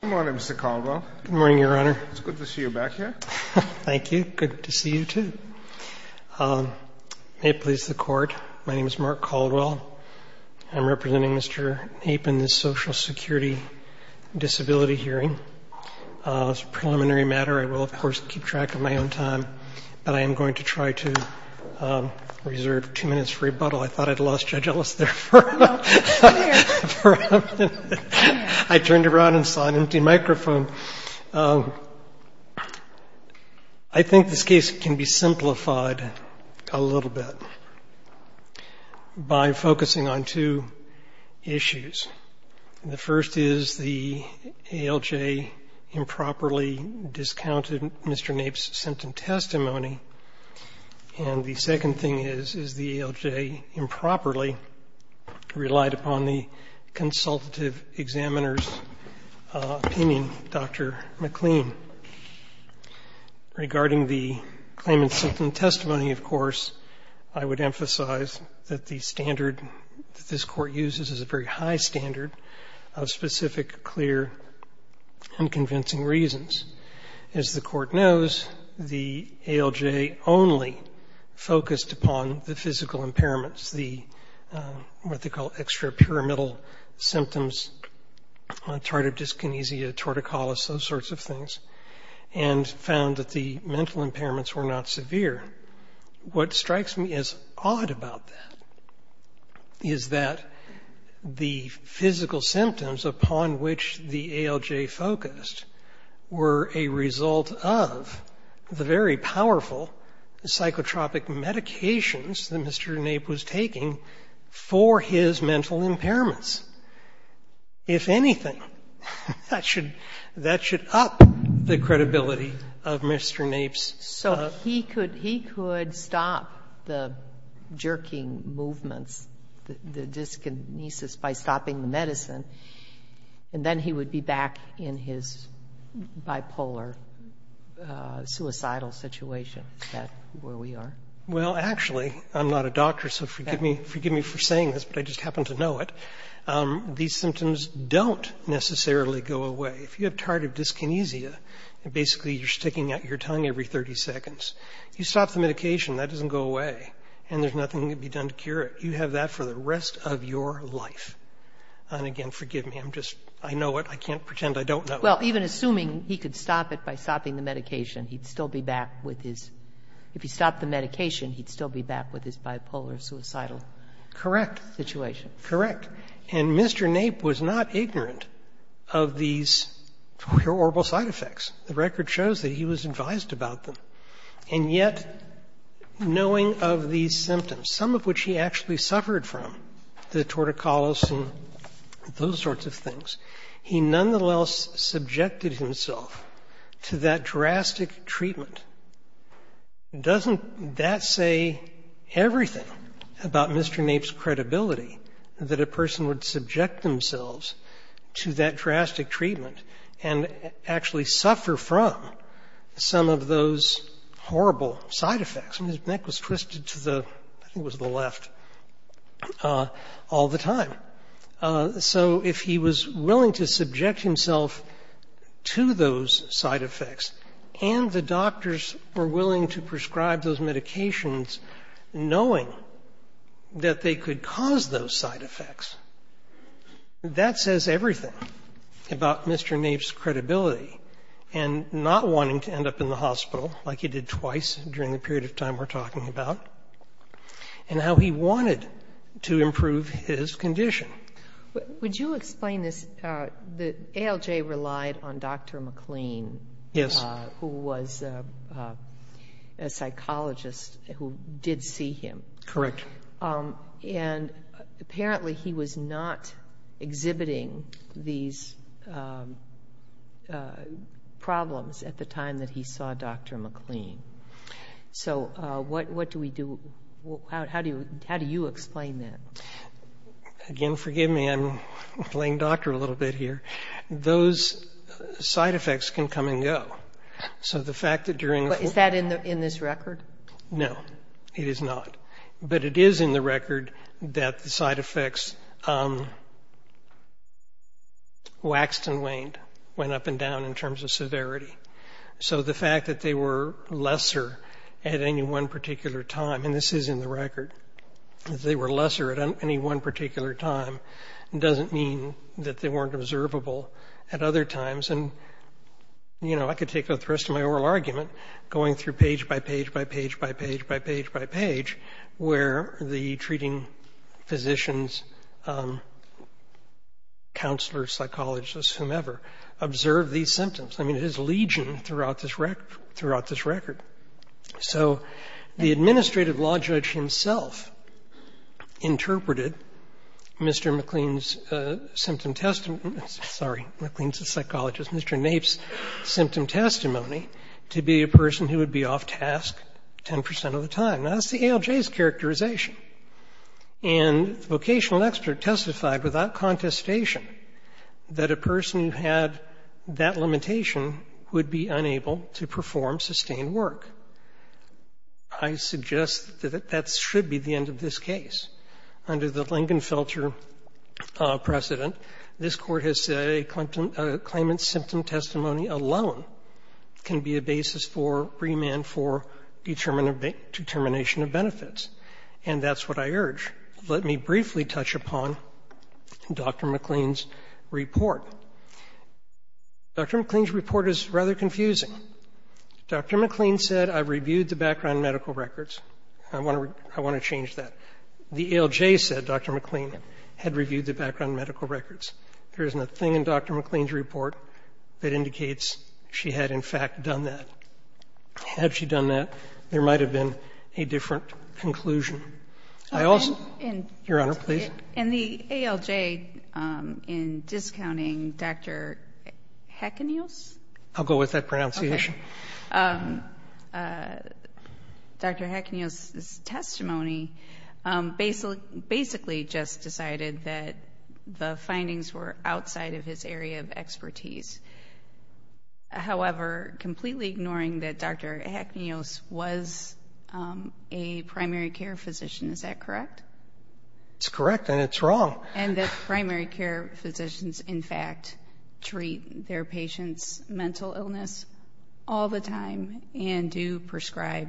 Good morning, Mr. Caldwell. Good morning, Your Honor. It's good to see you back here. Thank you. Good to see you, too. May it please the Court, my name is Mark Caldwell. I'm representing Mr. Knape in this Social Security Disability Hearing. It's a preliminary matter. I will, of course, keep track of my own time, but I am going to try to reserve two minutes for rebuttal. I thought I'd lost Judge Ellis there for a minute. I turned around and saw an empty microphone. I think this case can be simplified a little bit by focusing on two issues. The first is the ALJ improperly discounted Mr. Knape's symptom testimony, and the second thing is, is the ALJ improperly relied upon the consultative examiner's opinion, Dr. McLean. Regarding the claimant's symptom testimony, of course, I would emphasize that the standard that this Court uses is a very high standard of specific, clear, and convincing reasons. As the Court knows, the ALJ only focused upon the physical impairments, the what they call extrapyramidal symptoms, tardive dyskinesia, torticollis, those sorts of things, and found that the mental impairments were not severe. What strikes me as odd about that is that the physical symptoms upon which the ALJ focused were a result of the very powerful psychotropic medications that Mr. Knape was taking for his mental impairments. If anything, that should up the credibility of Mr. Knape's... So he could stop the jerking movements, the dyskinesis, by stopping the medicine, and then he would be back in his bipolar suicidal situation. Is that where we are? Well, actually, I'm not a doctor, so forgive me for saying this, but I just happen to know it. These symptoms don't necessarily go away. If you have tardive dyskinesia, and basically you're sticking out your tongue every 30 seconds, you stop the medication, that doesn't go away, and there's nothing that can be done to cure it. You have that for the rest of your life. And again, forgive me, I'm just, I know it. I can't pretend I don't know it. Well, even assuming he could stop it by stopping the medication, he'd still be back with his, if he stopped the medication, he'd still be back with his bipolar suicidal situation. Correct. Correct. And Mr. Knape was not ignorant of these horrible side effects. The record shows that he was advised about them. And yet, knowing of these symptoms, some of which he actually suffered from, the torticollis and those sorts of things, he nonetheless subjected himself to that drastic treatment. Doesn't that say everything about Mr. Knape's credibility, that a person would subject themselves to that drastic treatment and actually suffer from some of those horrible side effects? And his neck was twisted to the, I think it was the left, all the time. So if he was willing to subject himself to those side effects and the doctors were willing to prescribe those medications knowing that they could cause those side effects, that says everything about Mr. Knape's credibility and not wanting to end up in the hospital, like he did twice during the period of time we're talking about, and how he wanted to improve his condition. Would you explain this, ALJ relied on Dr. McLean, who was a psychologist, who did see him. Correct. And apparently he was not exhibiting these problems at the time that he saw Dr. McLean. So what do we do, how do you explain that? Again, forgive me, I'm playing doctor a little bit here. Those side effects can come and go. So the fact that during the... Is that in this record? No, it is not. But it is in the record that the side effects waxed and waned, went up and down in terms of severity. So the fact that they were lesser at any one particular time, and this is in the record, that they were lesser at any one particular time, doesn't mean that they weren't observable at other times. And, you know, I could take the rest of my oral argument, going through page by page by page by page by page by page, where the treating physicians, counselors, psychologists, whomever, observed these symptoms. I mean, it is legion throughout this record. So the administrative law judge himself interpreted Mr. McLean's symptom testimony, sorry, McLean's a psychologist, Mr. Nape's symptom testimony, to be a person who would be off task 10 percent of the time. Now, that's the ALJ's characterization. And the vocational expert testified without contestation that a person who had that limitation would be unable to perform sustained work. I suggest that that should be the end of this case. Under the Lingenfelter precedent, this Court has said a claimant's symptom testimony alone can be a basis for remand for determination of benefits. And that's what I urge. Let me briefly touch upon Dr. McLean's report. Dr. McLean's report is rather confusing. Dr. McLean said, I reviewed the background medical records. I want to change that. The ALJ said Dr. McLean had reviewed the background medical records. There is nothing in Dr. McLean's report that indicates she had, in fact, done that. Had she done that, there might have been a different conclusion. Your Honor, please. In the ALJ, in discounting Dr. Hecaneos? I'll go with that pronunciation. Dr. Hecaneos' testimony basically just decided that the findings were outside of his area of expertise. However, completely ignoring that Dr. Hecaneos was a primary care physician, is that correct? It's correct, and it's wrong. And that primary care physicians, in fact, treat their patients' mental illness all the time and do prescribe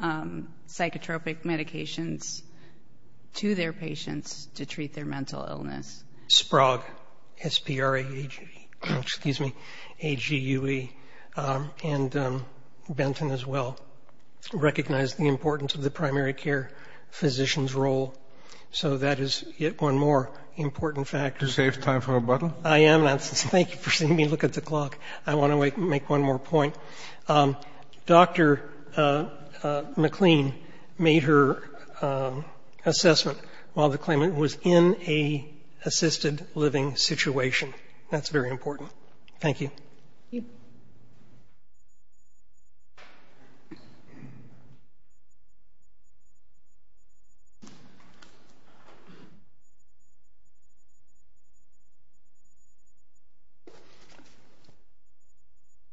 psychotropic medications to their patients to treat their mental illness. Sprague, S-P-R-A-G-E, excuse me, A-G-U-E, and Benton, as well, recognized the importance of the primary care physician's role. So that is yet one more important factor. To save time for rebuttal? I am. Thank you for seeing me look at the clock. I want to make one more point. Dr. McLean made her assessment while the claimant was in a assisted living situation. That's very important. Thank you. Thank you.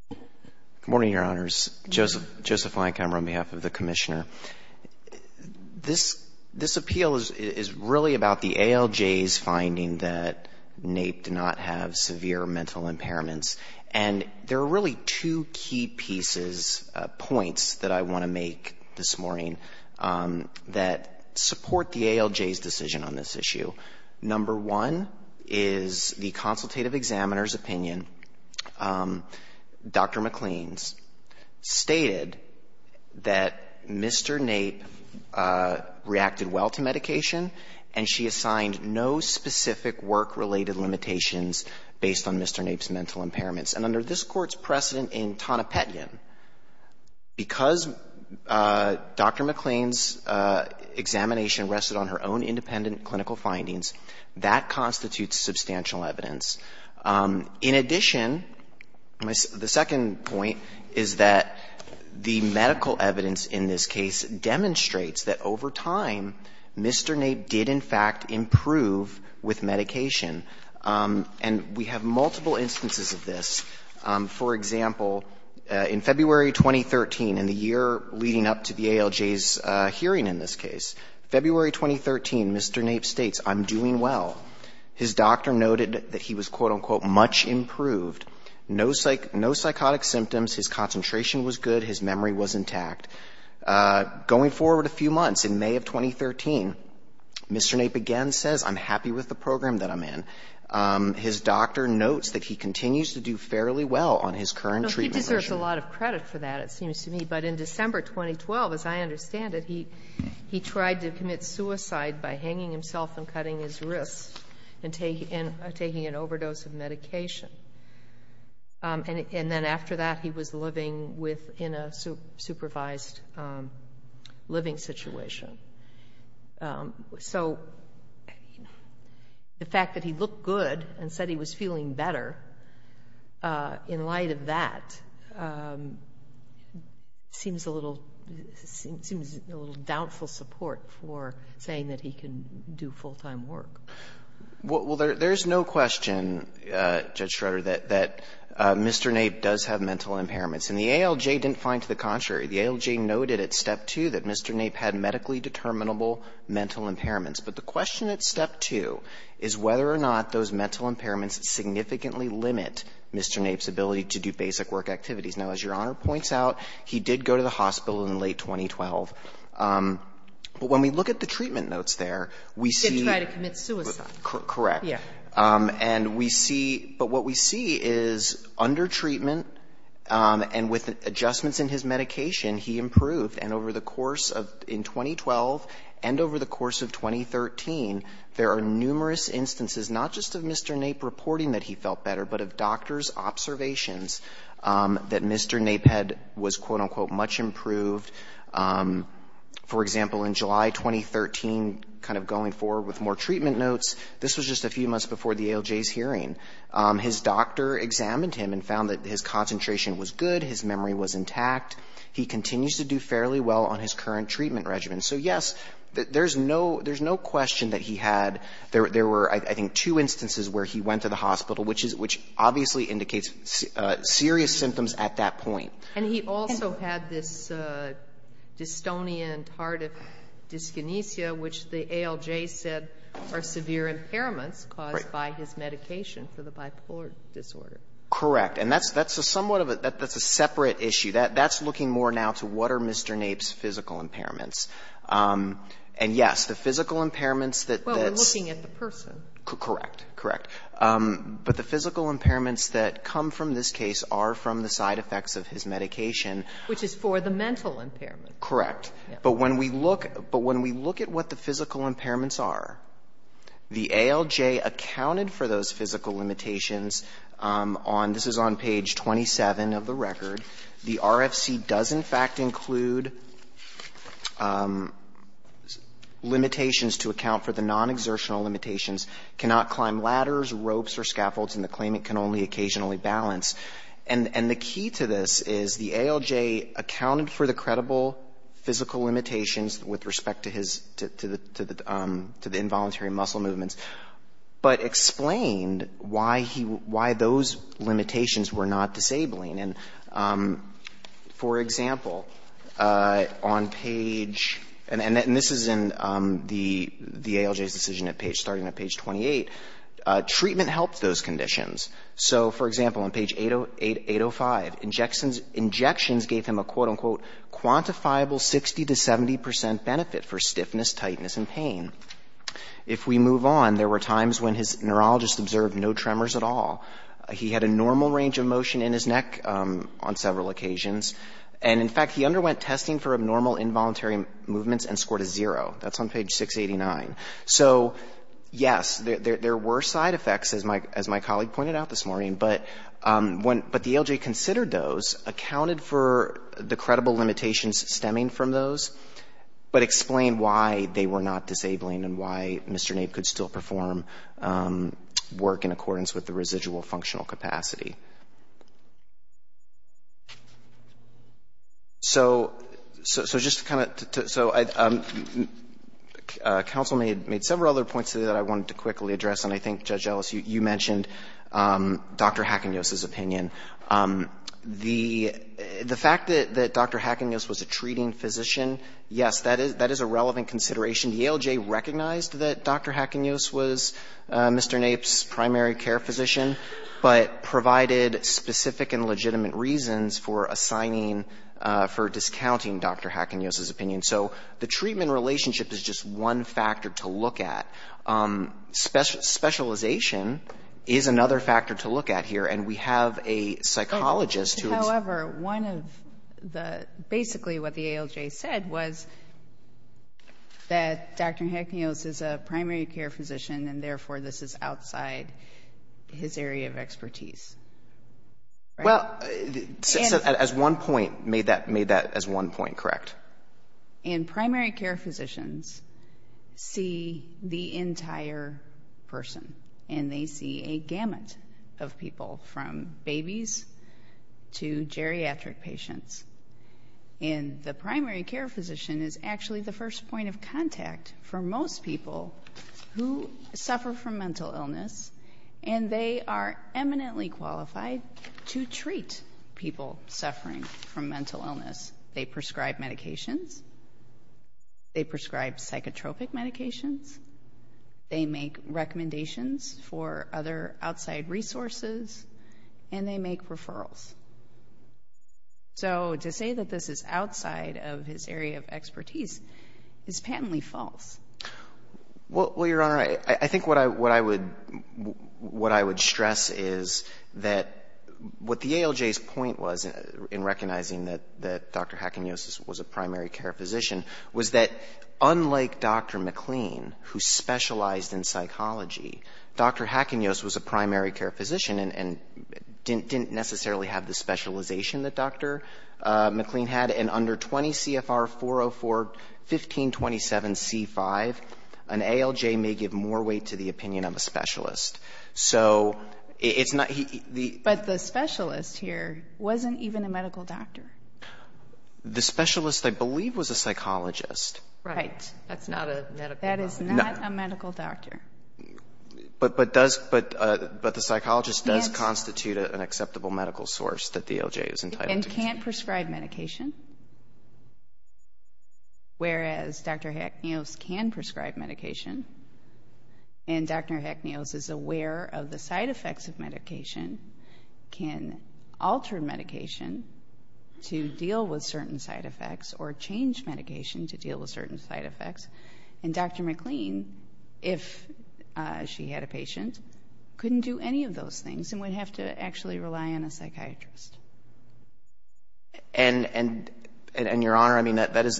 Good morning, Your Honors. Joseph Leinkammer on behalf of the Commissioner. This appeal is really about the ALJ's finding that Nape did not have severe mental impairments. And there are really two key pieces, points, that I want to make this morning that support the ALJ's decision on this issue. Number one is the consultative examiner's opinion. Dr. McLean's stated that Mr. Nape reacted well to medication and she assigned no specific work-related limitations based on Mr. Nape's mental impairments. And under this Court's precedent in Tonopetian, because Dr. McLean's examination rested on her own independent clinical findings, that constitutes substantial evidence. In addition, the second point is that the medical evidence in this case demonstrates that over time, Mr. Nape did, in fact, improve with medication. And we have multiple instances of this. For example, in February 2013, in the year leading up to the ALJ's hearing in this case, February 2013, Mr. Nape states, I'm doing well. His doctor noted that he was, quote, unquote, much improved, no psychotic symptoms, his concentration was good, his memory was intact. Going forward a few months, in May of 2013, Mr. Nape again says, I'm happy with the program that I'm in. His doctor notes that he continues to do fairly well on his current treatment regime. No, he deserves a lot of credit for that, it seems to me. But in December 2012, as I understand it, he tried to commit suicide by hanging himself and cutting his wrists and taking an overdose of medication. And then after that, he was living in a supervised living situation. So, the fact that he looked good and said he was feeling better in light of that seems a little doubtful support for saying that he can do full-time work. Well, there's no question, Judge Schroeder, that Mr. Nape does have mental impairments. And the ALJ didn't find to the contrary. The ALJ noted at Step 2 that Mr. Nape had medically determinable mental impairments. But the question at Step 2 is whether or not those mental impairments significantly limit Mr. Nape's ability to do basic work activities. Now, as Your Honor points out, he did go to the hospital in late 2012. But when we look at the treatment notes there, we see that he did commit suicide. Correct. Yeah. And we see – but what we see is under treatment and with adjustments in his medication, he improved. And over the course of – in 2012 and over the course of 2013, there are numerous instances, not just of Mr. Nape reporting that he felt better, but of doctor's observations that Mr. Nape had – was, quote, unquote, much improved. For example, in July 2013, kind of going forward with more treatment notes, this was just a few months before the ALJ's hearing. His doctor examined him and found that his concentration was good, his memory was intact. He continues to do fairly well on his current treatment regimen. So, yes, there's no – there's no question that he had – there were, I think, two instances where he went to the hospital, which is – which obviously indicates serious symptoms at that point. And he also had this dystonia and tardive dyskinesia, which the ALJ said are severe impairments caused by his medication for the bipolar disorder. Correct. And that's a somewhat of a – that's a separate issue. That's looking more now to what are Mr. Nape's physical impairments. And, yes, the physical impairments that – Well, we're looking at the person. Correct. Correct. But the physical impairments that come from this case are from the side effects of his medication. Which is for the mental impairment. Correct. But when we look – but when we look at what the physical impairments are, the ALJ accounted for those physical limitations on – this is on page 27 of the record. The RFC does, in fact, include limitations to account for the non-exertional limitations, cannot climb ladders, ropes, or scaffolds, and the claimant can only occasionally balance. And the key to this is the ALJ accounted for the credible physical limitations with respect to his – to the involuntary muscle movements, but explained why he – why those limitations were not disabling. And, for example, on page – and this is in the ALJ's decision starting on page 28. Treatment helped those conditions. So, for example, on page 805, injections gave him a, quote, unquote, quantifiable 60 to 70 percent benefit for stiffness, tightness, and pain. If we move on, there were times when his neurologist observed no tremors at all. He had a normal range of motion in his neck on several occasions. And, in fact, he underwent testing for abnormal involuntary movements and scored a zero. That's on page 689. So, yes, there were side effects, as my colleague pointed out this morning, but when – but the ALJ considered those, accounted for the credible limitations stemming from those, but explained why they were not disabling and why Mr. Nape's primary condition was not in accordance with the residual functional capacity. So, just to kind of – so, counsel made several other points today that I wanted to quickly address, and I think, Judge Ellis, you mentioned Dr. Hackenjose's opinion. The fact that Dr. Hackenjose was a treating physician, yes, that is a relevant consideration. The ALJ recognized that Dr. Hackenjose was Mr. Nape's primary care physician, but provided specific and legitimate reasons for assigning – for discounting Dr. Hackenjose's opinion. So, the treatment relationship is just one factor to look at. Specialization is another factor to look at here, and we have a psychologist who is – However, one of the – basically, what the ALJ said was that Dr. Hackenjose is a primary care physician, and therefore, this is outside his area of expertise. Well, as one point – made that as one point, correct? And primary care physicians see the entire person, and they see a gamut of people, from babies to geriatric patients, and the primary care physician is actually the first point of contact for most people who suffer from mental illness, and they are eminently qualified to treat people suffering from mental illness. They prescribe medications. They prescribe psychotropic medications. They make recommendations for other outside resources, and they make referrals. So, to say that this is outside of his area of expertise is patently false. Well, Your Honor, I think what I would stress is that what the ALJ's point was in recognizing that Dr. Hackenjose was a primary care physician was that unlike Dr. McLean, who specialized in psychology, Dr. Hackenjose was a primary care physician and didn't necessarily have the specialization that Dr. McLean had, and under 20 CFR 404, 1527 C5, an ALJ may give more weight to the opinion of a specialist. So, it's not – But the specialist here wasn't even a medical doctor. The specialist, I believe, was a psychologist. Right. That's not a medical doctor. That is not a medical doctor. But the psychologist does constitute an acceptable medical source that the ALJ is entitled to. And can't prescribe medication, whereas Dr. Hackenjose can prescribe medication, and Dr. Hackenjose is aware of the side effects of medication, can alter medication to deal with certain side effects or change medication to deal with certain side effects. And Dr. McLean, if she had a patient, couldn't do any of those things and would have to actually rely on a psychiatrist. And, Your Honor, I mean, that is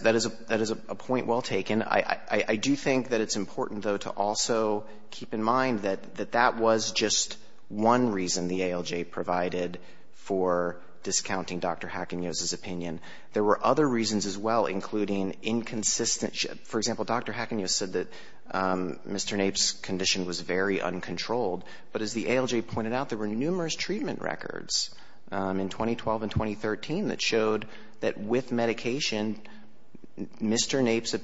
a point well taken. I do think that it's important, though, to also keep in mind that that was just one reason the ALJ provided for discounting Dr. Hackenjose's opinion. There were other reasons as well, including inconsistency. For example, Dr. Hackenjose said that Mr. Nape's condition was very uncontrolled. But as the ALJ pointed out, there were numerous treatment records in 2012 and 2013 that showed that with medication, Mr. Nape's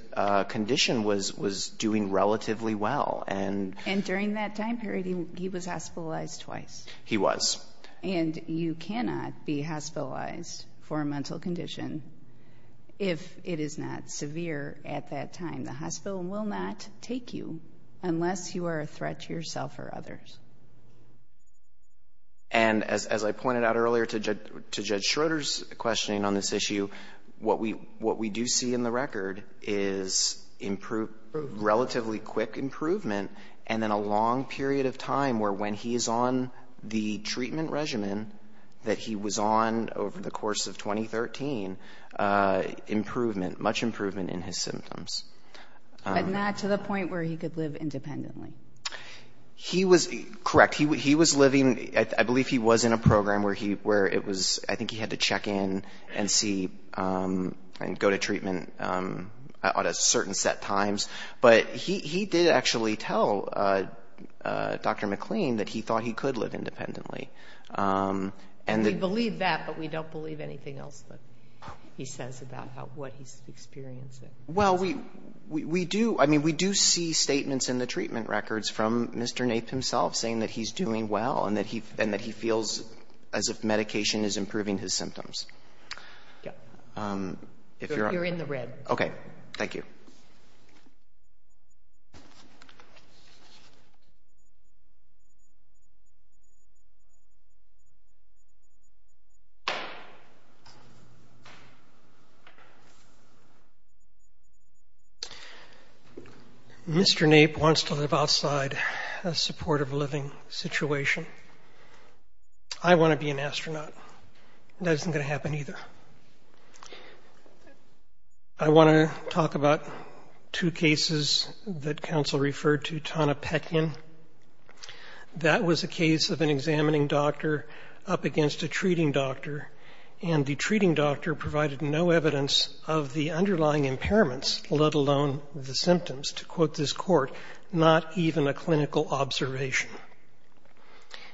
condition was doing relatively well. And during that time period, he was hospitalized twice. He was. And you cannot be hospitalized for a mental condition if it is not severe at that time. The hospital will not take you unless you are a threat to yourself or others. And as I pointed out earlier to Judge Schroeder's questioning on this issue, what we do see in the record is relatively quick improvement and then a long period of time where when he is on the treatment regimen that he was on over the course of 2013, improvement, much improvement in his symptoms. But not to the point where he could live independently. He was. Correct. He was living. I believe he was in a program where he, where it was, I think he had to check in and see and go to treatment at a certain set times. But he did actually tell Dr. McLean that he thought he could live independently. And we believe that, but we don't believe anything else that he says about what he's experiencing. Well, we do. I mean, we do see statements in the treatment records from Mr. Nape himself saying that he's doing well and that he feels as if medication is improving his symptoms. Yeah. You're in the red. Okay. Thank you. Mr. Nape wants to live outside a supportive living situation. I want to be an astronaut. That isn't going to happen either. I want to talk about two cases that counsel referred to, Tana Peckin. That was a case of an examining doctor up against a treating doctor. And the treating doctor provided no evidence of the underlying impairments, let alone the symptoms. To quote this court, not even a clinical observation.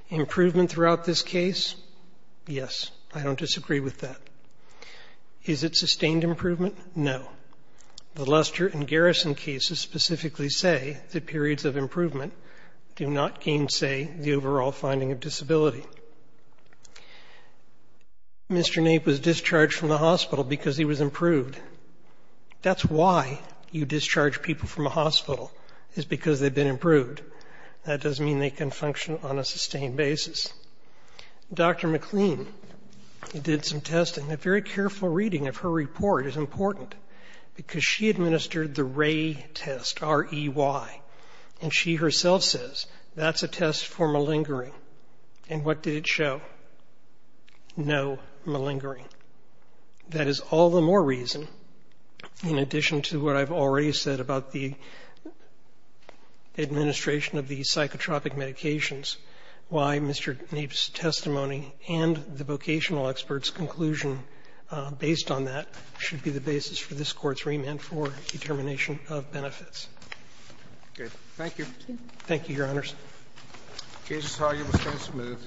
Improvement throughout this case? Yes. I don't disagree with that. Is it sustained improvement? No. The Luster and Garrison cases specifically say that periods of improvement do not gainsay the overall finding of disability. Mr. Nape was discharged from the hospital because he was improved. That's why you discharge people from a hospital, is because they've been improved. That doesn't mean they can function on a sustained basis. Dr. McLean did some testing. A very careful reading of her report is important, because she administered the Ray test, R-E-Y. And she herself says, that's a test for malingering. And what did it show? No malingering. That is all the more reason, in addition to what I've already said about the administration of the psychotropic medications, why Mr. Nape's testimony and the vocational expert's conclusion based on that should be the basis for this Court's remand for determination of benefits. Okay. Thank you. Thank you, Your Honors. The case is argued. The case is moved.